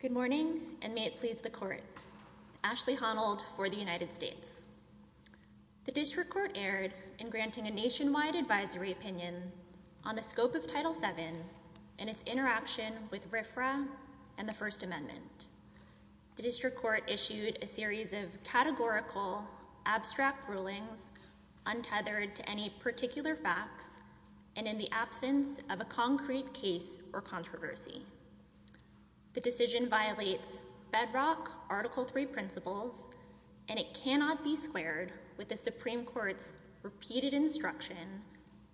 Good morning, and may it please the Court. Ashley Honnold for the United States. The District Court erred in granting a nationwide advisory opinion on the scope of Title VII and its interaction with RFRA and the First Amendment. The District Court issued a series of categorical, abstract rulings, untethered to any particular facts, and in the absence of a concrete case or controversy. The decision violates bedrock Article III principles, and it cannot be squared with the Supreme Court's repeated instruction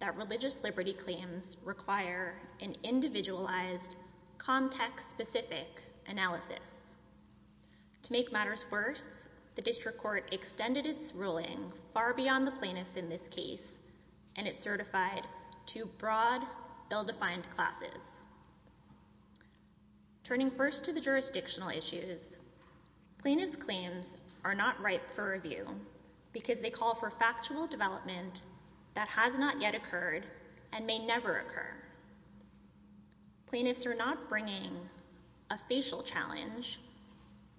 that religious liberty claims require an individualized, context-specific analysis. To make matters worse, the District ill-defined classes. Turning first to the jurisdictional issues, plaintiffs' claims are not ripe for review because they call for factual development that has not yet occurred and may never occur. Plaintiffs are not bringing a facial challenge.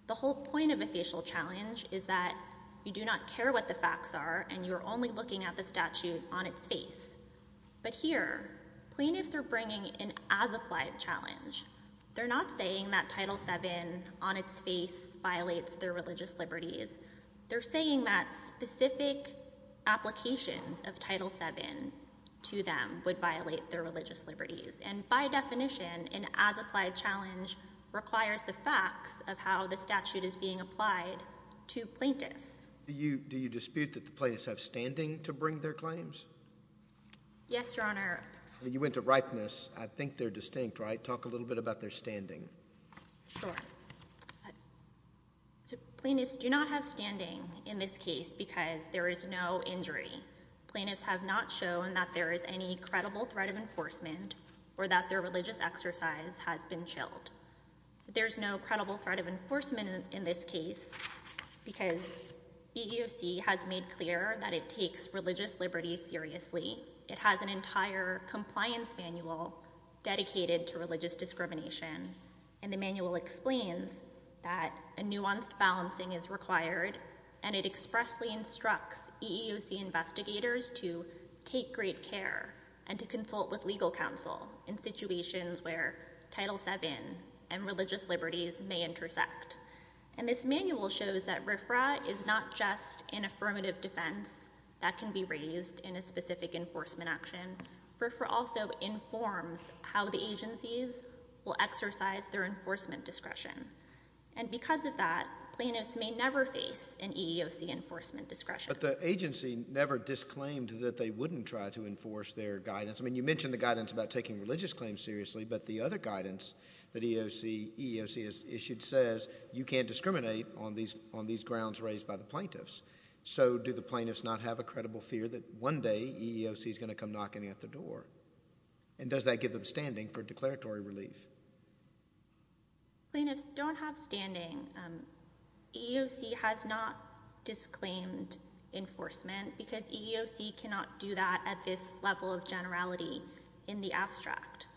The whole point of a facial challenge is that you do not care what the facts are, and you are only looking at the plaintiffs are bringing an as-applied challenge. They're not saying that Title VII on its face violates their religious liberties. They're saying that specific applications of Title VII to them would violate their religious liberties, and by definition, an as-applied challenge requires the facts of how the statute is being applied to plaintiffs. Do you dispute that the plaintiffs have standing to bring their claims? Yes, Your Honor. You went to ripeness. I think they're distinct, right? Talk a little bit about their standing. Sure. So plaintiffs do not have standing in this case because there is no injury. Plaintiffs have not shown that there is any credible threat of enforcement or that their religious exercise has been chilled. There's no credible threat of enforcement in this case because EEOC has made clear that it takes religious liberties seriously. It has an entire compliance manual dedicated to religious discrimination, and the manual explains that a nuanced balancing is required, and it expressly instructs EEOC investigators to take great care and to consult with legal counsel in situations where Title VII and religious liberties may intersect. And this manual shows that RFRA is not just an affirmative defense that can be raised in a specific enforcement action. RFRA also informs how the agencies will exercise their enforcement discretion, and because of that, plaintiffs may never face an EEOC enforcement discretion. But the agency never disclaimed that they wouldn't try to enforce their guidance. I mean, you mentioned the guidance about taking religious claims seriously, but the other EEOC issue says you can't discriminate on these grounds raised by the plaintiffs. So do the plaintiffs not have a credible fear that one day EEOC is going to come knocking at the door? And does that give them standing for declaratory relief? Plaintiffs don't have standing. EEOC has not disclaimed enforcement because EEOC cannot do that at this level of generality in the abstract.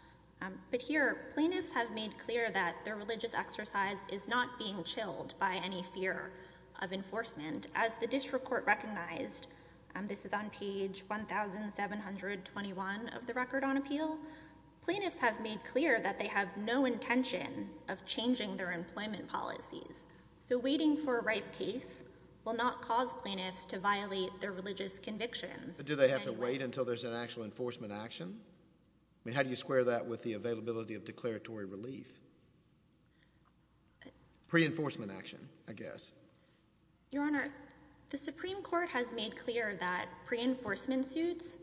But here, plaintiffs have made clear that their religious exercise is not being chilled by any fear of enforcement. As the District Court recognized, this is on page 1721 of the Record on Appeal, plaintiffs have made clear that they have no intention of changing their employment policies. So waiting for a right case will not cause plaintiffs to violate their religious convictions. Do they have to wait until there's an actual enforcement action? I mean, how do you square that with the availability of declaratory relief? Pre-enforcement action, I guess. Your Honor, the Supreme Court has made clear that pre-enforcement suits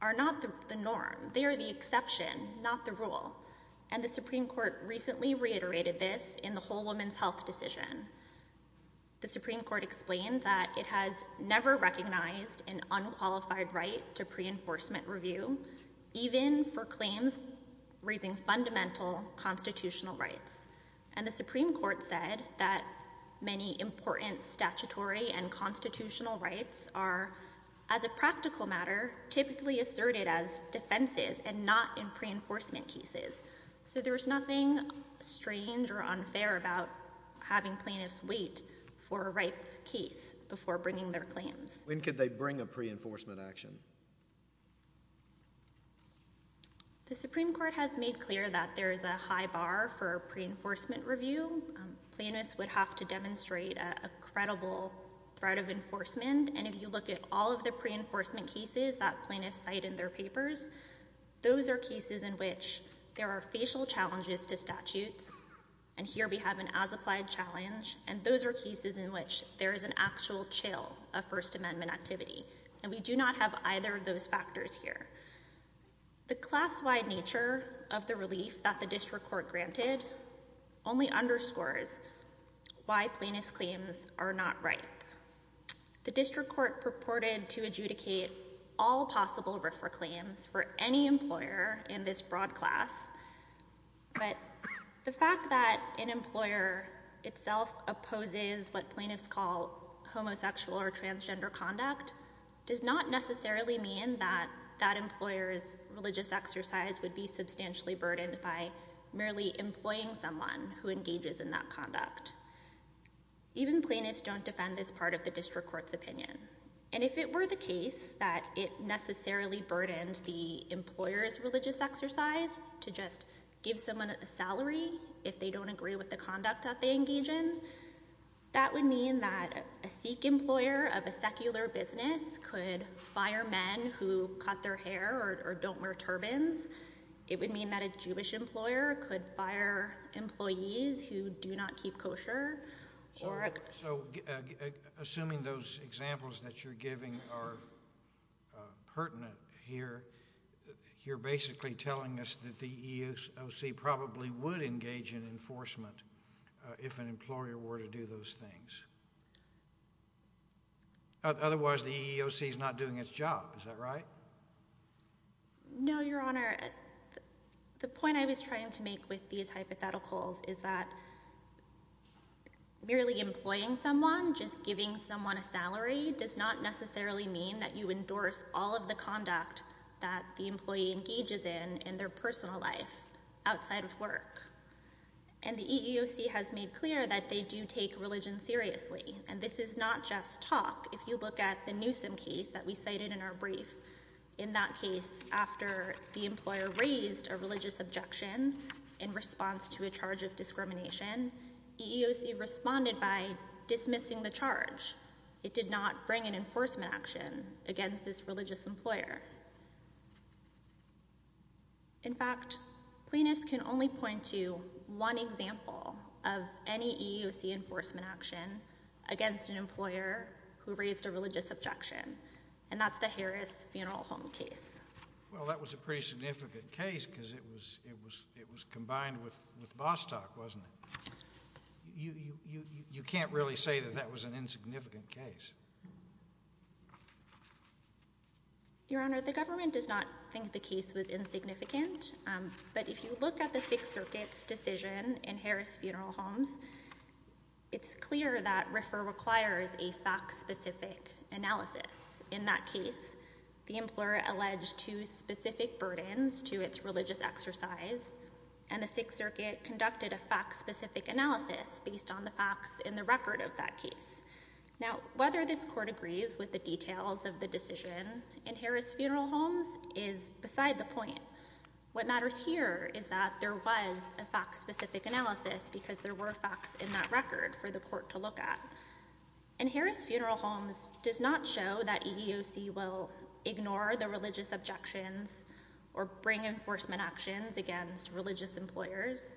are not the norm. They are the exception, not the rule. And the Supreme Court recently reiterated this in the Whole Woman's Health decision. The Supreme Court explained that it has never recognized an unqualified right to pre-enforcement review, even for claims raising fundamental constitutional rights. And the Supreme Court said that many important statutory and constitutional rights are, as a practical matter, typically asserted as defenses and not in pre-enforcement cases. So there's nothing strange or unfair about having plaintiffs wait for a right case before bringing their claims. When could they bring a pre-enforcement action? The Supreme Court has made clear that there's a high bar for pre-enforcement review. Plaintiffs would have to demonstrate a credible threat of enforcement. And if you look at all of the pre-enforcement cases that plaintiffs cite in their papers, those are cases in which there are facial challenges to statutes. And here we have an as-applied challenge. And those are cases in which there is an actual chill of First Amendment activity. And we do not have either of those factors here. The class-wide nature of the relief that the District Court granted only underscores why plaintiffs' claims are not right. The District Court purported to adjudicate all possible RFRA claims for any employer in this broad class. But the fact that an employer itself opposes what plaintiffs call homosexual or transgender conduct does not necessarily mean that that employer's religious exercise would be substantially burdened by merely employing someone who engages in that conduct. Even plaintiffs don't defend this part of the District Court's opinion. And if it were the case that it necessarily burdened the employer's religious exercise to just give someone a salary if they don't agree with the conduct that they engage in, that would mean that a Sikh employer of a secular business could fire men who cut their hair or don't wear turbans. It would mean that a Jewish employer could fire employees who do not keep kosher. So assuming those examples that you're giving are pertinent here, you're basically telling us that the EEOC probably would engage in enforcement if an employer were to do those things. Otherwise, the EEOC is not doing its job. Is that right? No, Your Honor. The point I was trying to make with these hypotheticals is that merely employing someone, just giving someone a salary, does not necessarily mean that you endorse all of the conduct that the employee engages in in their personal life outside of work. And the EEOC has made clear that they do take religion seriously. And this is not just talk. If you look at the Newsom case that we cited in our brief, in that case, after the employer raised a religious objection in response to a charge of discrimination, EEOC responded by dismissing the charge. It did not bring an enforcement action against this religious employer. In fact, plaintiffs can only point to one example of any EEOC enforcement action against an employer who raised a religious objection, and that's the Harris Funeral Home case. Well, that was a pretty significant case because it was combined with Bostock, wasn't it? You can't really say that that was an insignificant case. Your Honor, the government does not think the case was insignificant, but if you look at the Sixth Circuit's decision in Harris Funeral Homes, it's clear that RFRA requires a fact-specific analysis. In that case, the employer alleged two specific burdens to its religious exercise, and the Sixth Circuit conducted a fact-specific analysis based on the facts in the record of that case. Now, whether this Court agrees with the details of the decision in Harris Funeral Homes is beside the point. What matters here is that there was a fact-specific analysis because there were facts in that record for the Court to look at. In Harris Funeral Homes, it does not show that EEOC will ignore the religious objections or bring enforcement actions against religious employers.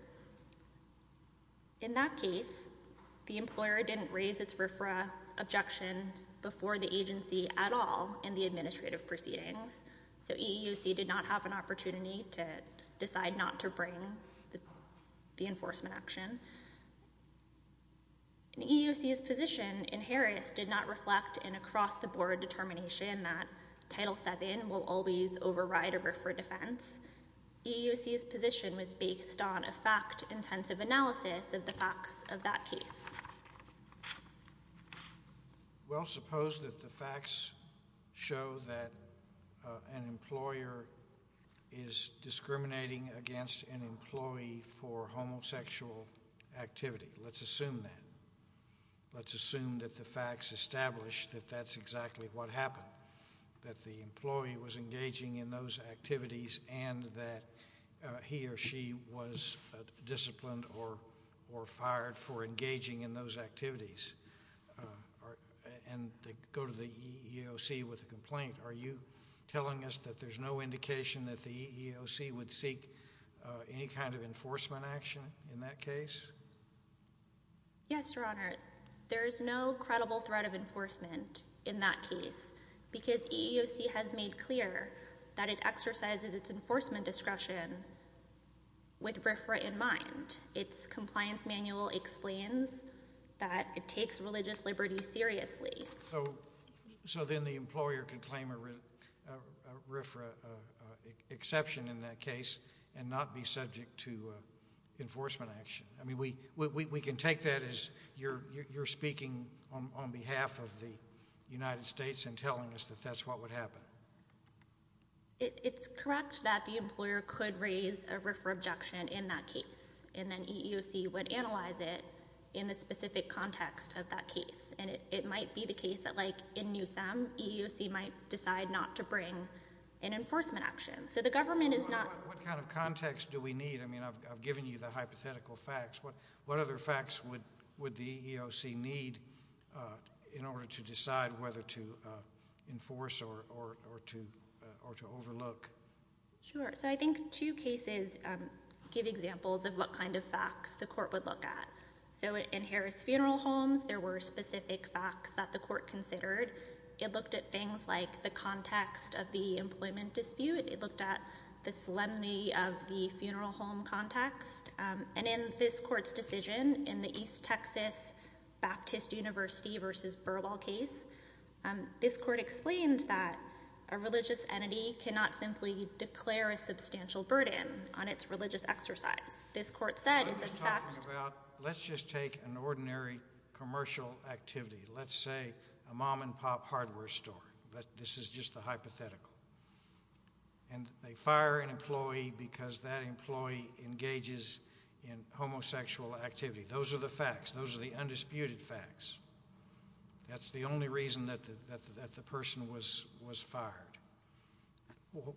In that case, the employer didn't raise its RFRA objection before the agency at all in the administrative proceedings, so EEOC did not have an opportunity to decide not to bring the enforcement action. And EEOC's position in Harris did not reflect an across-the-board determination that Title VII will always override a RFRA defense. EEOC's position was based on a fact-intensive analysis of the facts of that case. Well, suppose that the facts show that an employer is discriminating against an employee for homosexual activity. Let's assume that. Let's assume that the facts establish that that's exactly what happened, that the employee was engaging in those activities and that he or she was disciplined or fired for engaging in those activities. And to go to the EEOC with a complaint, are you telling us that there's no indication that the EEOC would seek any kind of enforcement action in that case? Yes, Your Honor. There's no credible threat of enforcement in that case because EEOC has made clear that it exercises its enforcement discretion with RFRA in mind. Its compliance manual explains that it takes religious liberty seriously. So then the employer can claim a RFRA exception in that case and not be subject to enforcement action. I mean, we can take that as you're speaking on behalf of the United States and telling us that that's what would happen. It's correct that the employer could raise a RFRA objection in that case, and then EEOC would analyze it in the specific context of that case. And it might be the case that, like, in Newsom, EEOC might decide not to bring an enforcement action. So the government is not— I mean, I've given you the hypothetical facts. What other facts would the EEOC need in order to decide whether to enforce or to overlook? Sure. So I think two cases give examples of what kind of facts the court would look at. So in Harris Funeral Homes, there were specific facts that the court considered. It looked at things like the context of the employment dispute. It looked at the solemnity of the funeral home context. And in this court's decision, in the East Texas Baptist University v. Burwell case, this court explained that a religious entity cannot simply declare a substantial burden on its religious exercise. This court said it's in fact— I'm just talking about, let's just take an ordinary commercial activity. Let's say a mom-and-pop hardware store. But this is just the hypothetical. And they fire an employee because that employee engages in homosexual activity. Those are the facts. Those are the undisputed facts. That's the only reason that the person was fired.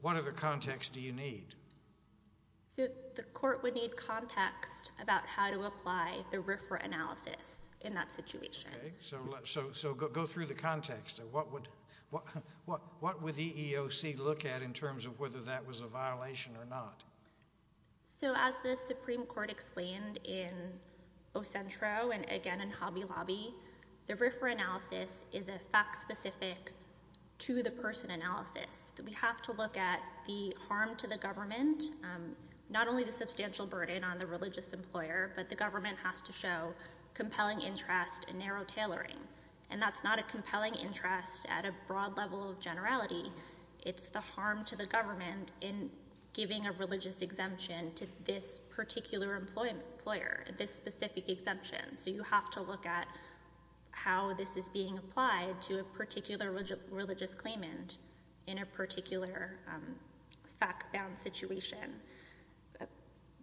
What other context do you need? So the court would need context about how to apply the RFRA analysis in that situation. So go through the context. What would the EEOC look at in terms of whether that was a violation or not? So as the Supreme Court explained in Ocentro and again in Hobby Lobby, the RFRA analysis is a fact-specific, to-the-person analysis. We have to look at the harm to the government—not only the substantial burden on the religious employer, but the government has to show compelling interest and narrow tailoring. And that's not a compelling interest at a broad level of generality. It's the harm to the government in giving a religious exemption to this particular employer, this specific exemption. So you have to look at how this is being applied to a particular religious claimant in a particular fact-bound situation.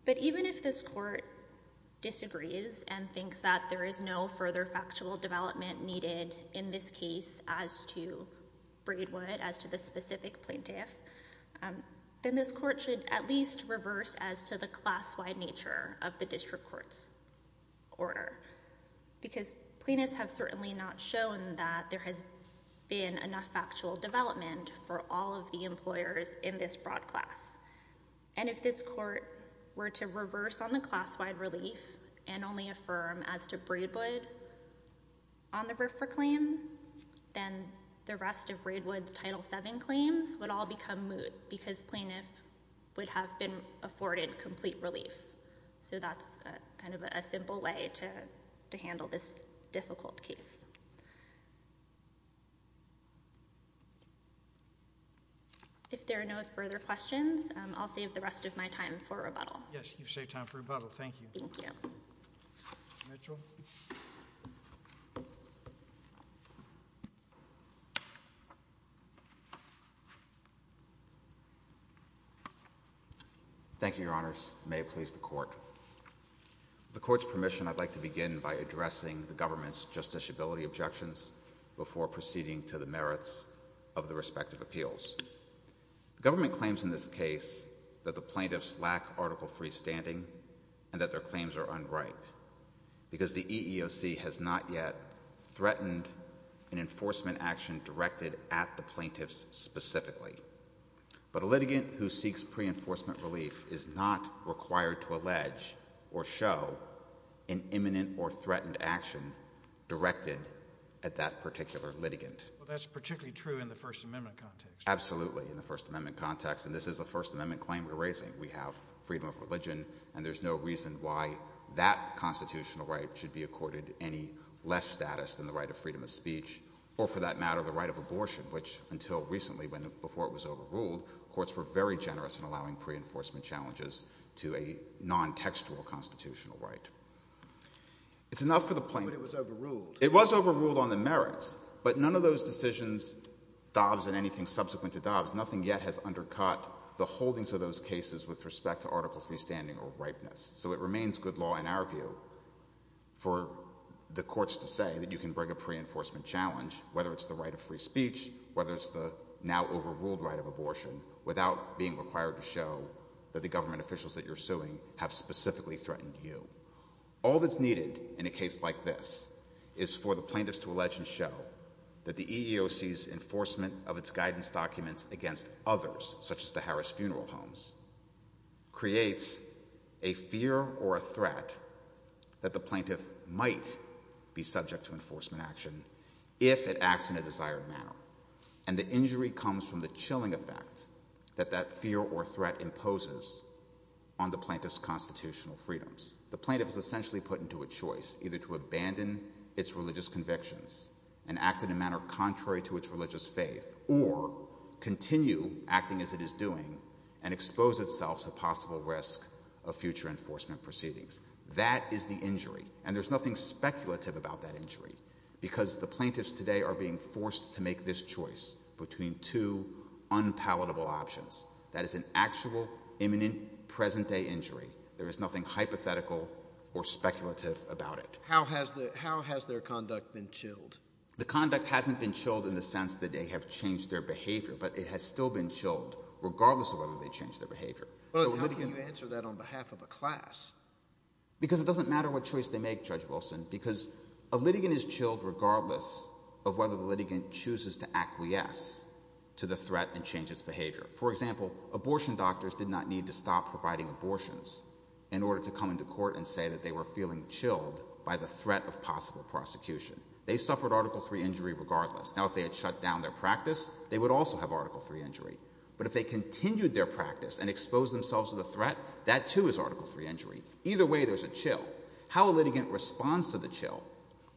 But even if this court disagrees and thinks that there is no further factual development needed in this case as to Braidwood, as to the specific plaintiff, then this court should at least reverse as to the class-wide nature of the district court's order. Because plaintiffs have certainly not shown that there has been enough factual development for all of the employers in this broad class. And if this court were to reverse on the class-wide relief and only affirm as to Braidwood on the BRFRA claim, then the rest of Braidwood's Title 7 claims would all become moot because plaintiff would have been afforded complete relief. So that's kind of a simple way to handle this difficult case. If there are no further questions, I'll save the rest of my time for rebuttal. Yes, you've saved time for rebuttal. Thank you. Thank you, Your Honors. May it please the Court. With the Court's permission, I'd like to begin by addressing the government's justiciability objections before proceeding to the merits of the respective appeals. The government claims in this case that the plaintiffs lack Article 3 standing and that their claims are unripe because the EEOC has not yet threatened an enforcement action directed at the plaintiffs specifically. But a litigant who seeks pre-enforcement relief is not required to allege or show an imminent or threatened action directed at that particular litigant. Well, that's particularly true in the First Amendment context. Absolutely, in the First Amendment context. And this is a First Amendment claim we're talking about, freedom of religion, and there's no reason why that constitutional right should be accorded any less status than the right of freedom of speech or, for that matter, the right of abortion, which, until recently, before it was overruled, courts were very generous in allowing pre-enforcement challenges to a non-textual constitutional right. It was overruled on the merits, but none of those decisions, Dobbs and anything subsequent to Dobbs, nothing yet has undercut the holdings of those cases with respect to Article 3 standing or ripeness. So it remains good law, in our view, for the courts to say that you can bring a pre-enforcement challenge, whether it's the right of free speech, whether it's the now overruled right of abortion, without being required to show that the government officials that you're suing have specifically threatened you. All that's needed in a case like this is for the plaintiffs to allege and show that the violence against others, such as the Harris Funeral Homes, creates a fear or a threat that the plaintiff might be subject to enforcement action if it acts in a desired manner, and the injury comes from the chilling effect that that fear or threat imposes on the plaintiff's constitutional freedoms. The plaintiff is essentially put into a choice, either to abandon its religious convictions and act in a manner contrary to its religious faith, or continue acting as it is doing and expose itself to possible risk of future enforcement proceedings. That is the injury, and there's nothing speculative about that injury, because the plaintiffs today are being forced to make this choice between two unpalatable options. That is an actual, imminent, present-day injury. There is nothing hypothetical or speculative about it. How has their conduct been chilled? The conduct hasn't been chilled in the sense that they have changed their behavior, but it has still been chilled, regardless of whether they changed their behavior. But how can you answer that on behalf of a class? Because it doesn't matter what choice they make, Judge Wilson, because a litigant is chilled regardless of whether the litigant chooses to acquiesce to the threat and change its behavior. For example, abortion doctors did not need to stop providing abortions in case they were feeling chilled by the threat of possible prosecution. They suffered Article 3 injury regardless. Now, if they had shut down their practice, they would also have Article 3 injury. But if they continued their practice and exposed themselves to the threat, that too is Article 3 injury. Either way, there's a chill. How a litigant responds to the chill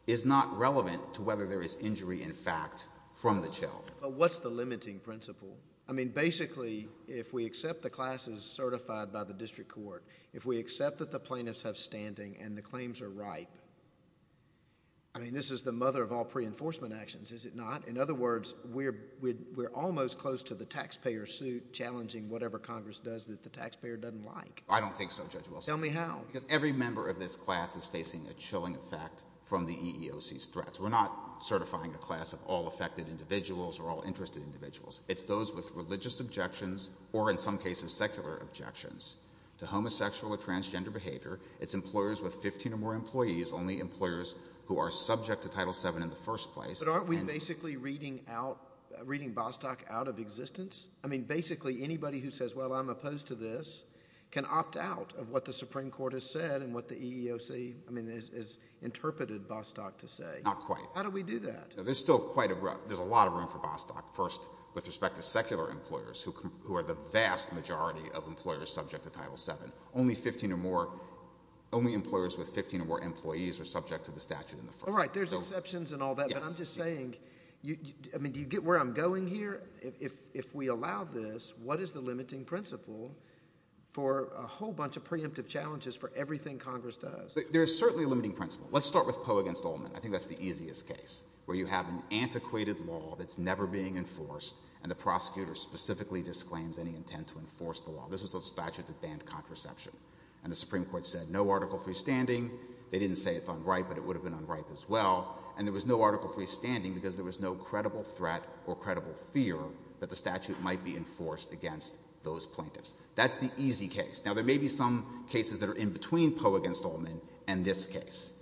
is not relevant to whether there is injury, in fact, from the chill. But what's the limiting principle? I mean, basically, if we accept the classes certified by the district court, if we accept that the plaintiffs have standing and the claims are ripe, I mean, this is the mother of all pre-enforcement actions, is it not? In other words, we're almost close to the taxpayer suit challenging whatever Congress does that the taxpayer doesn't like. I don't think so, Judge Wilson. Tell me how. Because every member of this class is facing a chilling effect from the EEOC's threats. We're not certifying a class of all affected individuals or all interested individuals. It's those with religious objections or, in some cases, secular objections to homosexual or transgender behavior. It's employers with 15 or more employees, only employers who are subject to Title VII in the first place. But aren't we basically reading out, reading Bostock out of existence? I mean, basically, anybody who says, well, I'm opposed to this, can opt out of what the Supreme Court has said and what the EEOC, I mean, has interpreted Bostock to say. Not quite. How do we do that? There's still quite a lot of room for Bostock, first with respect to secular employers who are the vast majority of employers subject to Title VII. Only 15 or more, only employers with 15 or more employees are subject to the statute in the first place. All right. There's exceptions and all that. Yes. But I'm just saying, I mean, do you get where I'm going here? If we allow this, what is the limiting principle for a whole bunch of preemptive challenges for everything Congress does? There is certainly a limiting principle. Let's start with Poe against Oldman. I think that's the easiest case, where you have an antiquated law that's never being enforced and the prosecutor specifically disclaims any intent to enforce the law. This was a statute that banned contraception. And the Supreme Court said no Article III standing. They didn't say it's unripe, but it would have been unripe as well. And there was no Article III standing because there was no credible threat or credible fear that the statute might be enforced against those plaintiffs. That's the easy case. Now, there may be some cases that are in between Poe against Oldman and this case.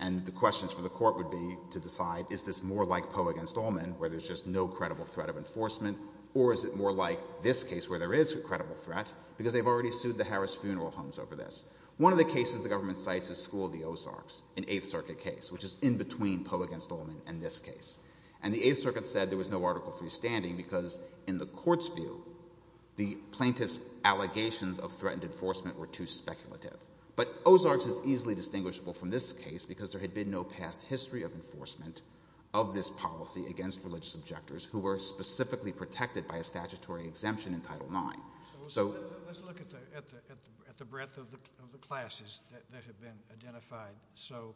And the questions for the court would be to decide, is this more like Poe against Oldman, where there's just no credible threat of enforcement, or is it more like this case, where there is a credible threat, because they've already sued the Harris Funeral Homes over this. One of the cases the government cites is School v. Ozarks, an Eighth Circuit case, which is in between Poe against Oldman and this case. And the Eighth Circuit said there was no Article III standing because, in the court's view, the plaintiffs' allegations of threatened enforcement were too speculative. But Ozarks is easily distinguishable from this case because there had been no past history of enforcement of this policy against religious objectors who were specifically protected by a statutory exemption in Title IX. So let's look at the breadth of the classes that have been identified. So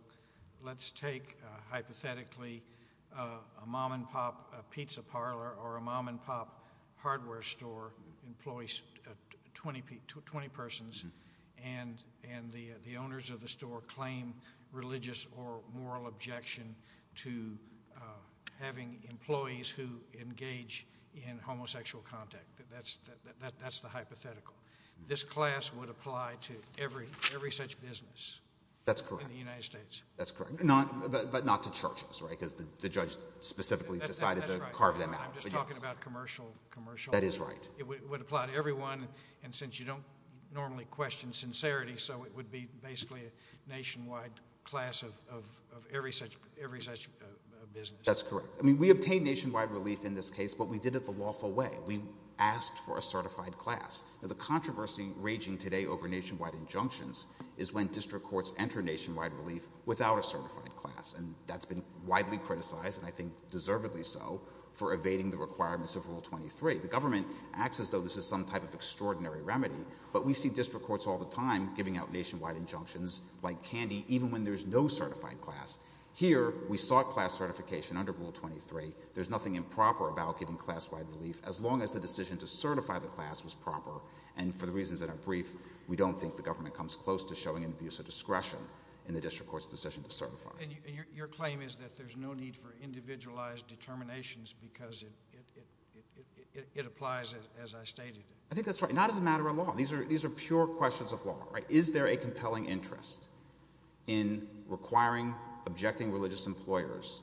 let's take, hypothetically, a mom-and-pop pizza parlor or a mom-and-pop hardware store that employs 20 persons, and the owners of the store claim religious or moral objection to having employees who engage in homosexual contact. That's the hypothetical. This class would apply to every such business in the United States. That's correct. But not to churches, right, because the judge specifically decided to carve them out. That's right. I'm just talking about commercial. That is right. It would apply to everyone, and since you don't normally question sincerity, so it would be basically a nationwide class of every such business. That's correct. I mean, we obtained nationwide relief in this case, but we did it the lawful way. We asked for a certified class. The controversy raging today over nationwide injunctions is when district courts enter nationwide relief without a certified class. And that's been widely criticized, and I think deservedly so, for evading the requirements of Rule 23. The government acts as though this is some type of extraordinary remedy, but we see district courts all the time giving out nationwide injunctions like candy, even when there's no certified class. Here, we sought class certification under Rule 23. There's nothing improper about giving class-wide relief, as long as the decision to certify the class was proper, and for the reasons that are brief, we don't think the government comes close to showing an abuse of discretion in the district court's decision to certify. Your claim is that there's no need for individualized determinations because it applies, as I stated. I think that's right. Not as a matter of law. These are pure questions of law. Right? Is there a compelling interest in requiring, objecting religious employers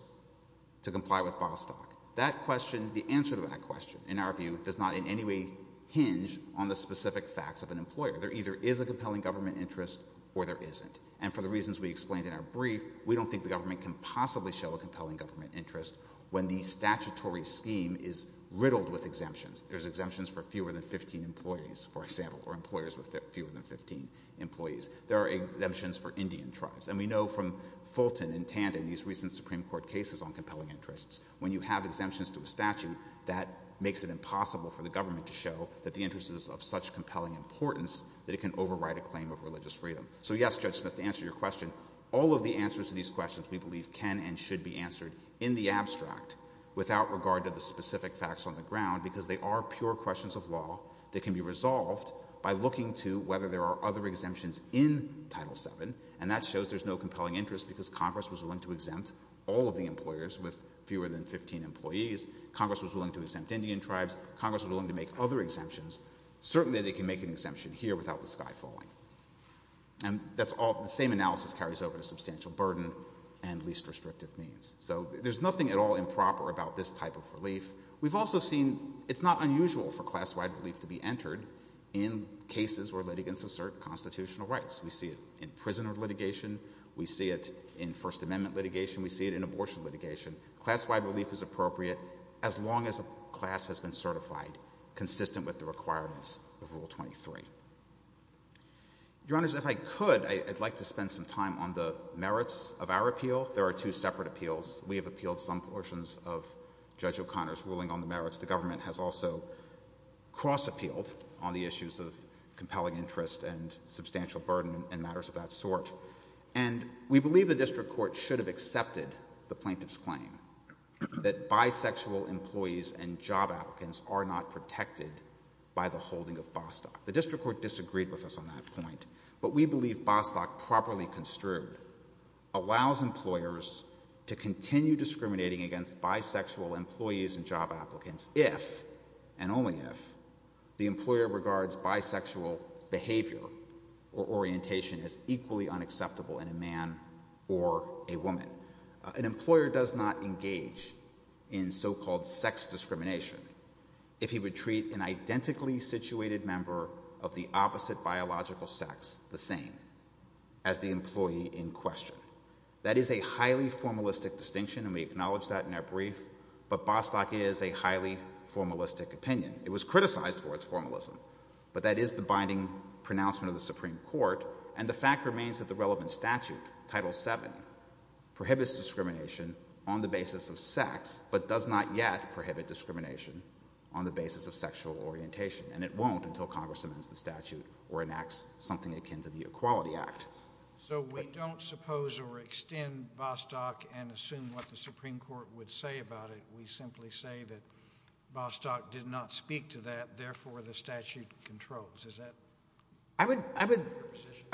to comply with Bostock? That question, the answer to that question, in our view, does not in any way hinge on the specific facts of an employer. There either is a compelling government interest, or there isn't. And for the reasons we explained in our brief, we don't think the government can possibly show a compelling government interest when the statutory scheme is riddled with exemptions. There's exemptions for fewer than 15 employees, for example, or employers with fewer than 15 employees. There are exemptions for Indian tribes. And we know from Fulton and Tandon, these recent Supreme Court cases on compelling interests, when you have exemptions to a statute, that makes it impossible for the government to show that the interest is of such compelling importance that it can override a claim of religious freedom. So yes, Judge Smith, to answer your question, all of the answers to these questions we believe can and should be answered in the abstract, without regard to the specific facts on the ground, because they are pure questions of law that can be resolved by looking to whether there are other exemptions in Title VII, and that shows there's no compelling interest because Congress was willing to exempt all of the employers with fewer than 15 employees. Congress was willing to exempt Indian tribes. Congress was willing to make other exemptions. Certainly they can make an exemption here without the sky falling. And that's all, the same analysis carries over to substantial burden and least restrictive means. So there's nothing at all improper about this type of relief. We've also seen, it's not unusual for class-wide relief to be entered in cases where litigants assert constitutional rights. We see it in prisoner litigation. We see it in First Amendment litigation. We see it in abortion litigation. Class-wide relief is appropriate as long as a class has been certified consistent with the requirements of Rule 23. Your Honors, if I could, I'd like to spend some time on the merits of our appeal. There are two separate appeals. We have appealed some portions of Judge O'Connor's ruling on the merits. The government has also cross-appealed on the issues of compelling interest and substantial burden and matters of that sort. And we believe the district court should have accepted the plaintiff's claim that bisexual employees and job applicants are not protected by the holding of Bostock. The district court disagreed with us on that point. But we believe Bostock properly construed allows employers to continue discriminating against bisexual employees and job applicants if, and only if, the employer regards bisexual behavior or orientation as equally unacceptable in a man or a woman. An employer does not engage in so-called sex discrimination if he would treat an identically situated member of the opposite biological sex the same as the employee in question. That is a highly formalistic distinction, and we acknowledge that in our brief. But Bostock is a highly formalistic opinion. It was criticized for its formalism. But that is the binding pronouncement of the Supreme Court. And the fact remains that the relevant statute, Title VII, prohibits discrimination on the basis of sex, but does not yet prohibit discrimination on the basis of sexual orientation. And it won't until Congress amends the statute or enacts something akin to the Equality Act. So we don't suppose or extend Bostock and assume what the Supreme Court would say about it. We simply say that Bostock did not speak to that, therefore the statute controls. Is that? I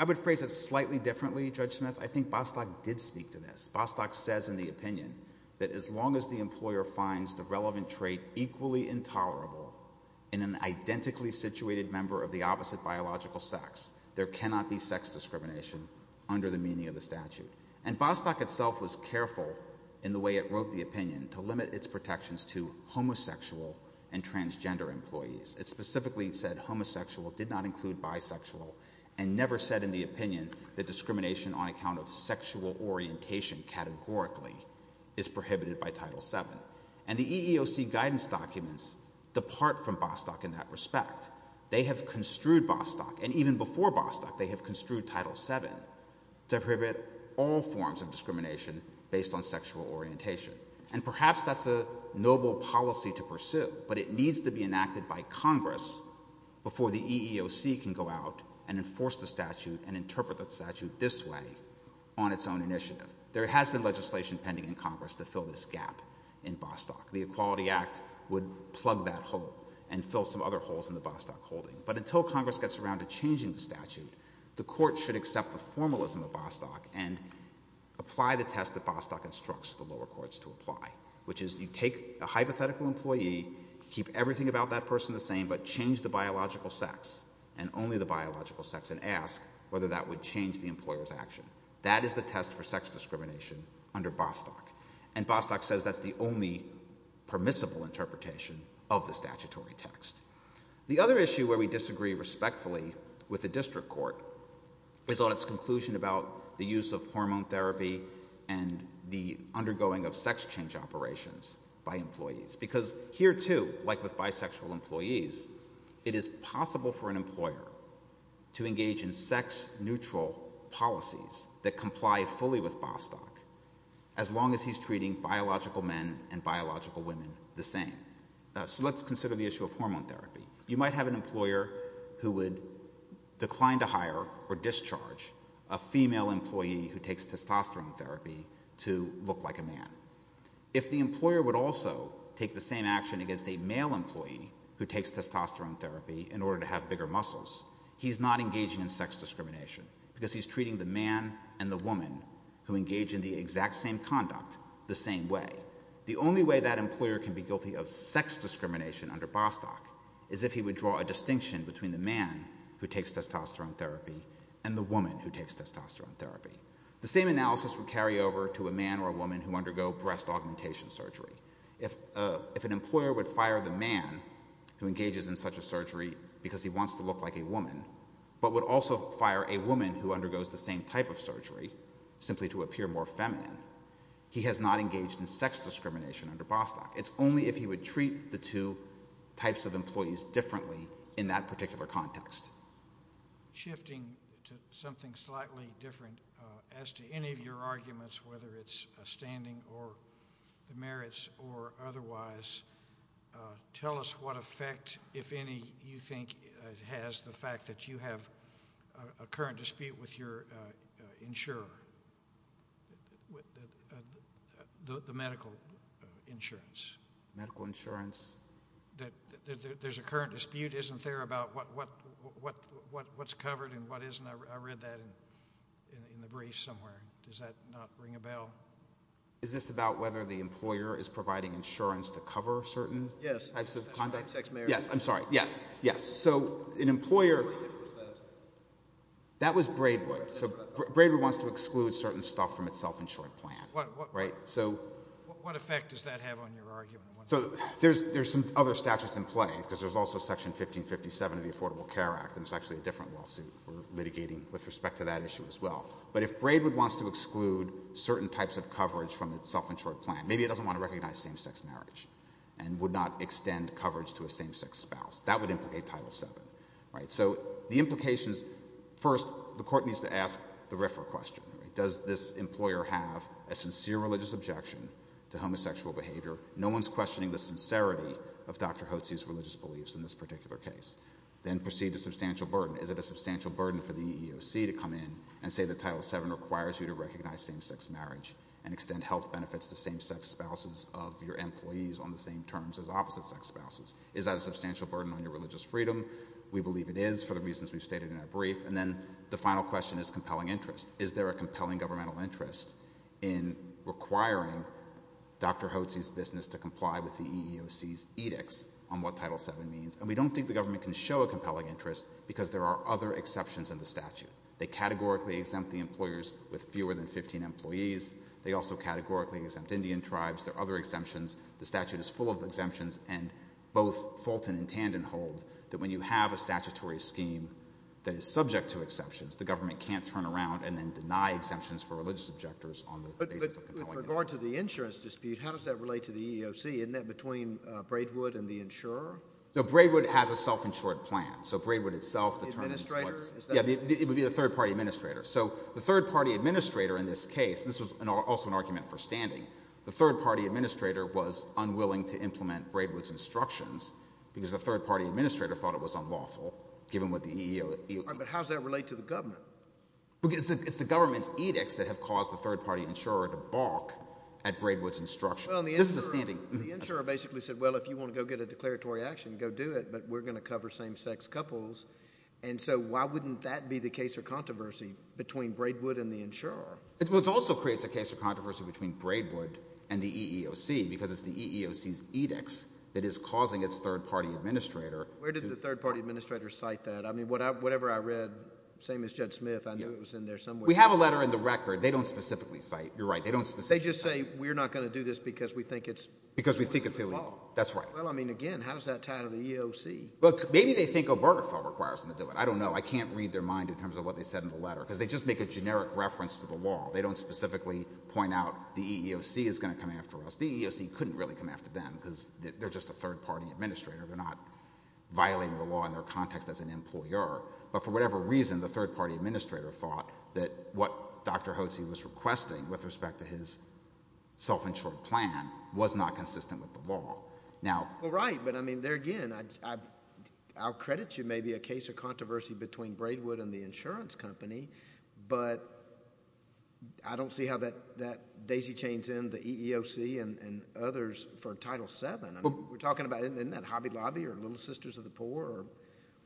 would phrase it slightly differently, Judge Smith. I think Bostock did speak to this. Bostock says in the opinion that as long as the employer finds the relevant trait equally intolerable in an identically situated member of the opposite biological sex, there cannot be sex discrimination under the meaning of the statute. And Bostock itself was careful in the way it wrote the opinion to limit its protections to homosexual and transgender employees. It specifically said homosexual, did not include bisexual, and never said in the opinion that discrimination on account of sexual orientation categorically is prohibited by Title VII. And the EEOC guidance documents depart from Bostock in that respect. They have construed Bostock, and even before Bostock, they have construed Title VII, to prohibit all forms of discrimination based on sexual orientation. And perhaps that's a noble policy to pursue, but it needs to be enacted by Congress before the EEOC can go out and enforce the statute and interpret the statute this way on its own initiative. There has been legislation pending in Congress to fill this gap in Bostock. The Equality Act would plug that hole and fill some other holes in the Bostock holding. But until Congress gets around to changing the statute, the Court should accept the formalism of Bostock and apply the test that Bostock instructs the lower courts to apply, which is you take a hypothetical employee, keep everything about that person the same, but change the biological sex, and only the biological sex, and ask whether that would change the employer's action. That is the test for sex discrimination under Bostock. And Bostock says that's the only permissible interpretation of the statutory text. The other issue where we disagree respectfully with the district court is on its conclusion about the use of hormone therapy and the undergoing of sex change operations by employees. Because here, too, like with bisexual employees, it is possible for an employer to engage in sex-neutral policies that comply fully with Bostock, as long as he's treating biological men and biological women the same. So let's consider the issue of hormone therapy. You might have an employer who would decline to hire or discharge a female employee who takes testosterone therapy to look like a man. If the employer would also take the same action against a male employee who takes testosterone therapy in order to have bigger muscles, he's not engaging in sex discrimination because he's treating the man and the woman who engage in the exact same conduct the same way. The only way that employer can be guilty of sex discrimination under Bostock is if he would draw a distinction between the man who takes testosterone therapy and the woman who takes testosterone therapy. The same analysis would carry over to a man or a woman who undergo breast augmentation surgery. If an employer would fire the man who engages in such a surgery because he wants to look like a woman, but would also fire a woman who undergoes the same type of surgery, simply to appear more feminine, he has not engaged in sex discrimination under Bostock. It's only if he would treat the two types of employees differently in that particular context. Shifting to something slightly different, as to any of your arguments, whether it's a standing or the merits or otherwise, tell us what effect, if any, you think has the you have a current dispute with your insurer, the medical insurance. Medical insurance. That there's a current dispute, isn't there, about what's covered and what isn't? I read that in the brief somewhere. Does that not ring a bell? Is this about whether the employer is providing insurance to cover certain types of conduct? Yes. I'm sorry. Yes. Yes. Yes. Yes. Yes. So an employer... That was Braidwood. So Braidwood wants to exclude certain stuff from its self-insured plan. Right? So... What effect does that have on your argument? So there's some other statutes in play, because there's also Section 1557 of the Affordable Care Act, and it's actually a different lawsuit we're litigating with respect to that issue as well. But if Braidwood wants to exclude certain types of coverage from its self-insured plan, maybe it doesn't want to recognize same-sex marriage and would not extend coverage to a same-sex spouse. That would implicate Title VII. Right? So the implications... First, the court needs to ask the RFRA question. Does this employer have a sincere religious objection to homosexual behavior? No one's questioning the sincerity of Dr. Hotze's religious beliefs in this particular case. Then proceed to substantial burden. Is it a substantial burden for the EEOC to come in and say that Title VII requires you to recognize same-sex marriage and extend health benefits to same-sex spouses of your employees on the same terms as opposite-sex spouses? Is that a substantial burden on your religious freedom? We believe it is for the reasons we've stated in our brief. And then the final question is compelling interest. Is there a compelling governmental interest in requiring Dr. Hotze's business to comply with the EEOC's edicts on what Title VII means? And we don't think the government can show a compelling interest because there are other exceptions in the statute. They categorically exempt the employers with fewer than 15 employees. They also categorically exempt Indian tribes. There are other exemptions. The statute is full of exemptions. And both Fulton and Tandon hold that when you have a statutory scheme that is subject to exceptions, the government can't turn around and then deny exemptions for religious objectors on the basis of compelling interest. But with regard to the insurance dispute, how does that relate to the EEOC? Isn't that between Braidwood and the insurer? No, Braidwood has a self-insured plan. So Braidwood itself determines what's— The administrator? Yeah, it would be the third-party administrator. So the third-party administrator in this case—this was also an argument for standing—the third-party administrator was unwilling to implement Braidwood's instructions because the third-party administrator thought it was unlawful, given what the EEOC— All right, but how does that relate to the government? Because it's the government's edicts that have caused the third-party insurer to balk at Braidwood's instructions. This is a standing— Well, the insurer basically said, well, if you want to go get a declaratory action, go do it, but we're going to cover same-sex couples. And so why wouldn't that be the case or controversy between Braidwood and the insurer? Well, it also creates a case of controversy between Braidwood and the EEOC because it's the EEOC's edicts that is causing its third-party administrator— Where did the third-party administrator cite that? I mean, whatever I read, same as Judd Smith, I knew it was in there somewhere. We have a letter in the record. They don't specifically cite—you're right, they don't specifically cite— They just say, we're not going to do this because we think it's— Because we think it's illegal. That's right. Well, I mean, again, how does that tie to the EEOC? Look, maybe they think Obergefell requires them to do it. I don't know. I can't read their mind in terms of what they said in the letter because they just make a generic reference to the law. They don't specifically point out the EEOC is going to come after us. The EEOC couldn't really come after them because they're just a third-party administrator. They're not violating the law in their context as an employer. But for whatever reason, the third-party administrator thought that what Dr. Hotze was requesting with respect to his self-insured plan was not consistent with the law. Now— Well, right. But I mean, there again, I'll credit you, maybe a case of controversy between Braidwood and the insurance company, but I don't see how that daisy-chains in the EEOC and others for Title VII. I mean, we're talking about—isn't that Hobby Lobby or Little Sisters of the Poor or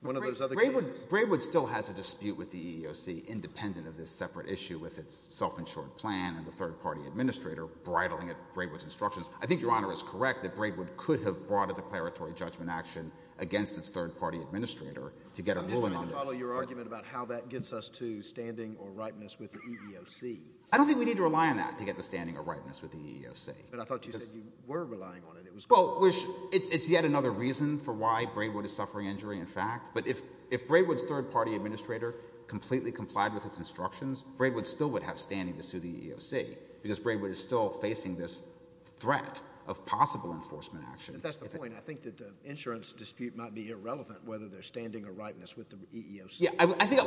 one of those other cases? Braidwood still has a dispute with the EEOC independent of this separate issue with its self-insured plan and the third-party administrator bridling it with Braidwood's instructions. I think Your Honor is correct that Braidwood could have brought a declaratory judgment action against its third-party administrator to get a ruling on this. I'm just trying to follow your argument about how that gets us to standing or ripeness with the EEOC. I don't think we need to rely on that to get to standing or ripeness with the EEOC. But I thought you said you were relying on it. It was— Well, it's yet another reason for why Braidwood is suffering injury, in fact. But if Braidwood's third-party administrator completely complied with its instructions, Braidwood still would have standing to sue the EEOC because Braidwood is still facing this threat of possible enforcement action. That's the point. I think that the insurance dispute might be irrelevant whether they're standing or ripeness with the EEOC. Yeah. I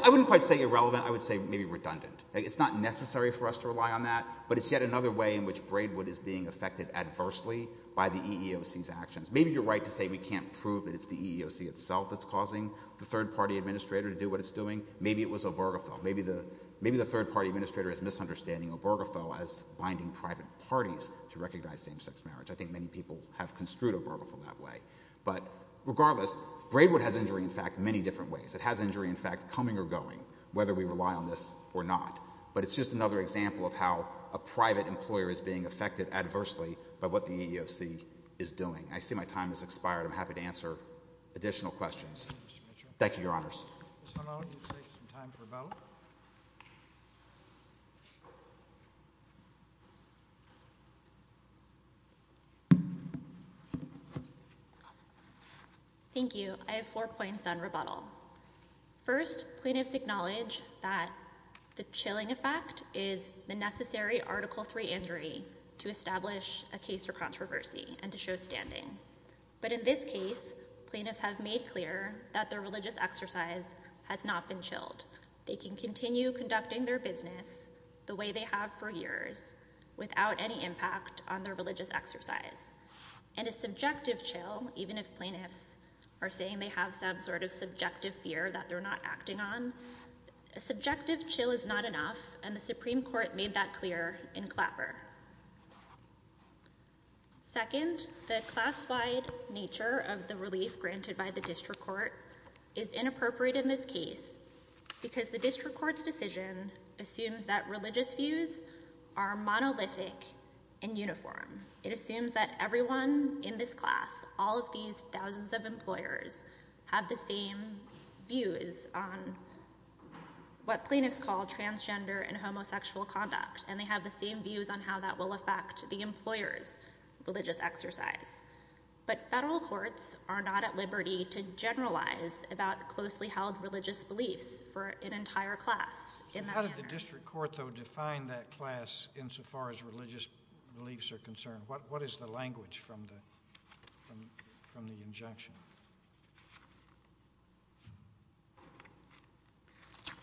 wouldn't quite say irrelevant. I would say maybe redundant. It's not necessary for us to rely on that, but it's yet another way in which Braidwood is being affected adversely by the EEOC's actions. Maybe you're right to say we can't prove that it's the EEOC itself that's causing the third-party administrator to do what it's doing. Maybe it was Obergefell. Maybe the third-party administrator is misunderstanding Obergefell as binding private parties to recognize same-sex marriage. I think many people have construed Obergefell that way. But regardless, Braidwood has injury, in fact, many different ways. It has injury, in fact, coming or going, whether we rely on this or not. But it's just another example of how a private employer is being affected adversely by what the EEOC is doing. I see my time has expired. I'm happy to answer additional questions. Mr. Mitchell. Thank you, Your Honors. Ms. Hanau, you can take some time for rebuttal. Thank you. I have four points on rebuttal. First, plaintiffs acknowledge that the chilling effect is the necessary Article III injury to establish a case for controversy and to show standing. But in this case, plaintiffs have made clear that their religious exercise has not been chilled. They can continue conducting their business the way they have for years without any impact on their religious exercise. And a subjective chill, even if plaintiffs are saying they have some sort of subjective fear that they're not acting on, a subjective chill is not enough, and the Supreme Court made that clear in Clapper. Second, the class-wide nature of the relief granted by the district court is inappropriate in this case because the district court's decision assumes that religious views are monolithic and uniform. It assumes that everyone in this class, all of these thousands of employers, have the same views on what plaintiffs call transgender and homosexual conduct, and they have the same views on how that will affect the employer's religious exercise. But federal courts are not at liberty to generalize about closely held religious beliefs for an entire class. How did the district court, though, define that class insofar as religious beliefs are concerned? What is the language from the injunction?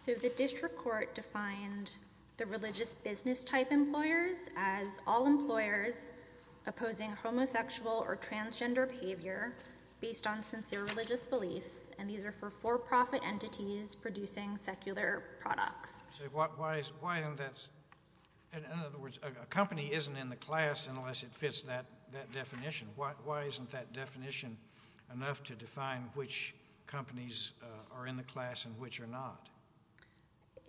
So the district court defined the religious business type employers as all employers opposing homosexual or transgender behavior based on sincere religious beliefs, and these are for for-profit entities producing secular products. So why isn't that—in other words, a company isn't in the class unless it fits that definition. Why isn't that definition enough to define which companies are in the class and which are not?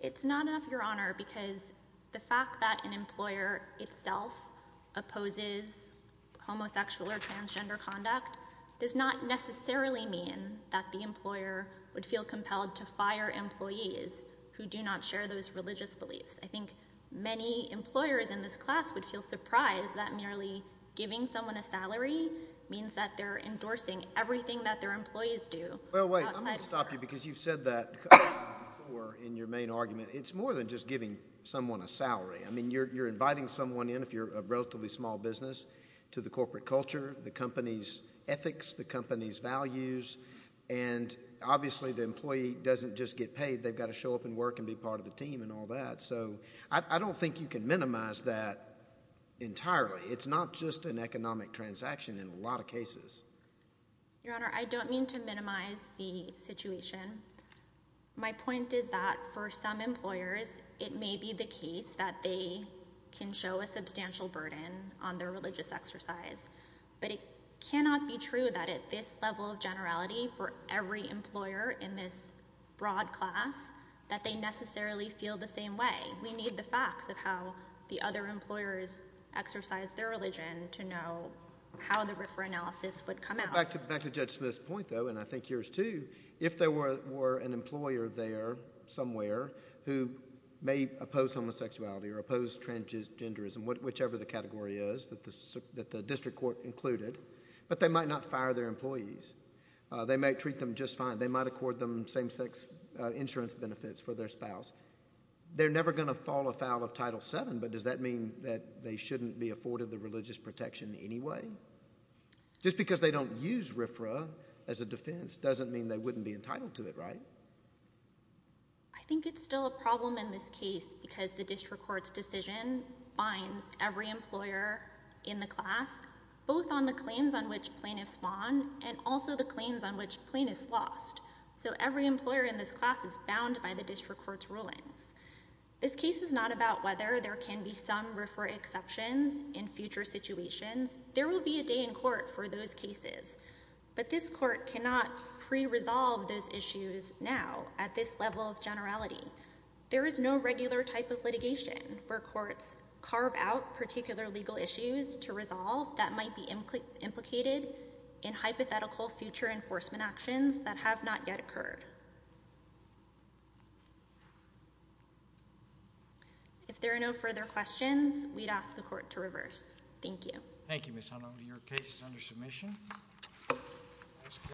It's not enough, Your Honor, because the fact that an employer itself opposes homosexual or transgender conduct does not necessarily mean that the employer would feel compelled to fire employees who do not share those religious beliefs. I think many employers in this class would feel surprised that merely giving someone a salary means that they're endorsing everything that their employees do. Well, wait. I'm going to stop you because you've said that before in your main argument. It's more than just giving someone a salary. I mean, you're inviting someone in if you're a relatively small business to the corporate culture, the company's ethics, the company's values, and obviously the employee doesn't just get paid. They've got to show up and work and be part of the team and all that. So I don't think you can minimize that entirely. It's not just an economic transaction in a lot of cases. Your Honor, I don't mean to minimize the situation. My point is that for some employers, it may be the case that they can show a substantial burden on their religious exercise, but it cannot be true that at this level of generality for every employer in this broad class that they necessarily feel the same way. We need the facts of how the other employers exercise their religion to know how the refer analysis would come out. Back to Judge Smith's point, though, and I think yours, too. If there were an employer there somewhere who may oppose homosexuality or oppose transgenderism, whichever the category is that the district court included, but they might not fire their employees. They might treat them just fine. They might accord them same-sex insurance benefits for their spouse. They're never going to fall afoul of Title VII, but does that mean that they shouldn't be afforded the religious protection anyway? Just because they don't use RFRA as a defense doesn't mean they wouldn't be entitled to it, right? I think it's still a problem in this case because the district court's decision binds every employer in the class, both on the claims on which plaintiffs spawn and also the claims on which plaintiffs lost. So every employer in this class is bound by the district court's rulings. This case is not about whether there can be some RFRA exceptions in future situations. There will be a day in court for those cases, but this court cannot pre-resolve those issues now at this level of generality. There is no regular type of litigation where courts carve out particular legal issues to If there are no further questions, we'd ask the court to reverse. Thank you. Thank you, Ms. Honnold. Your case is under submission.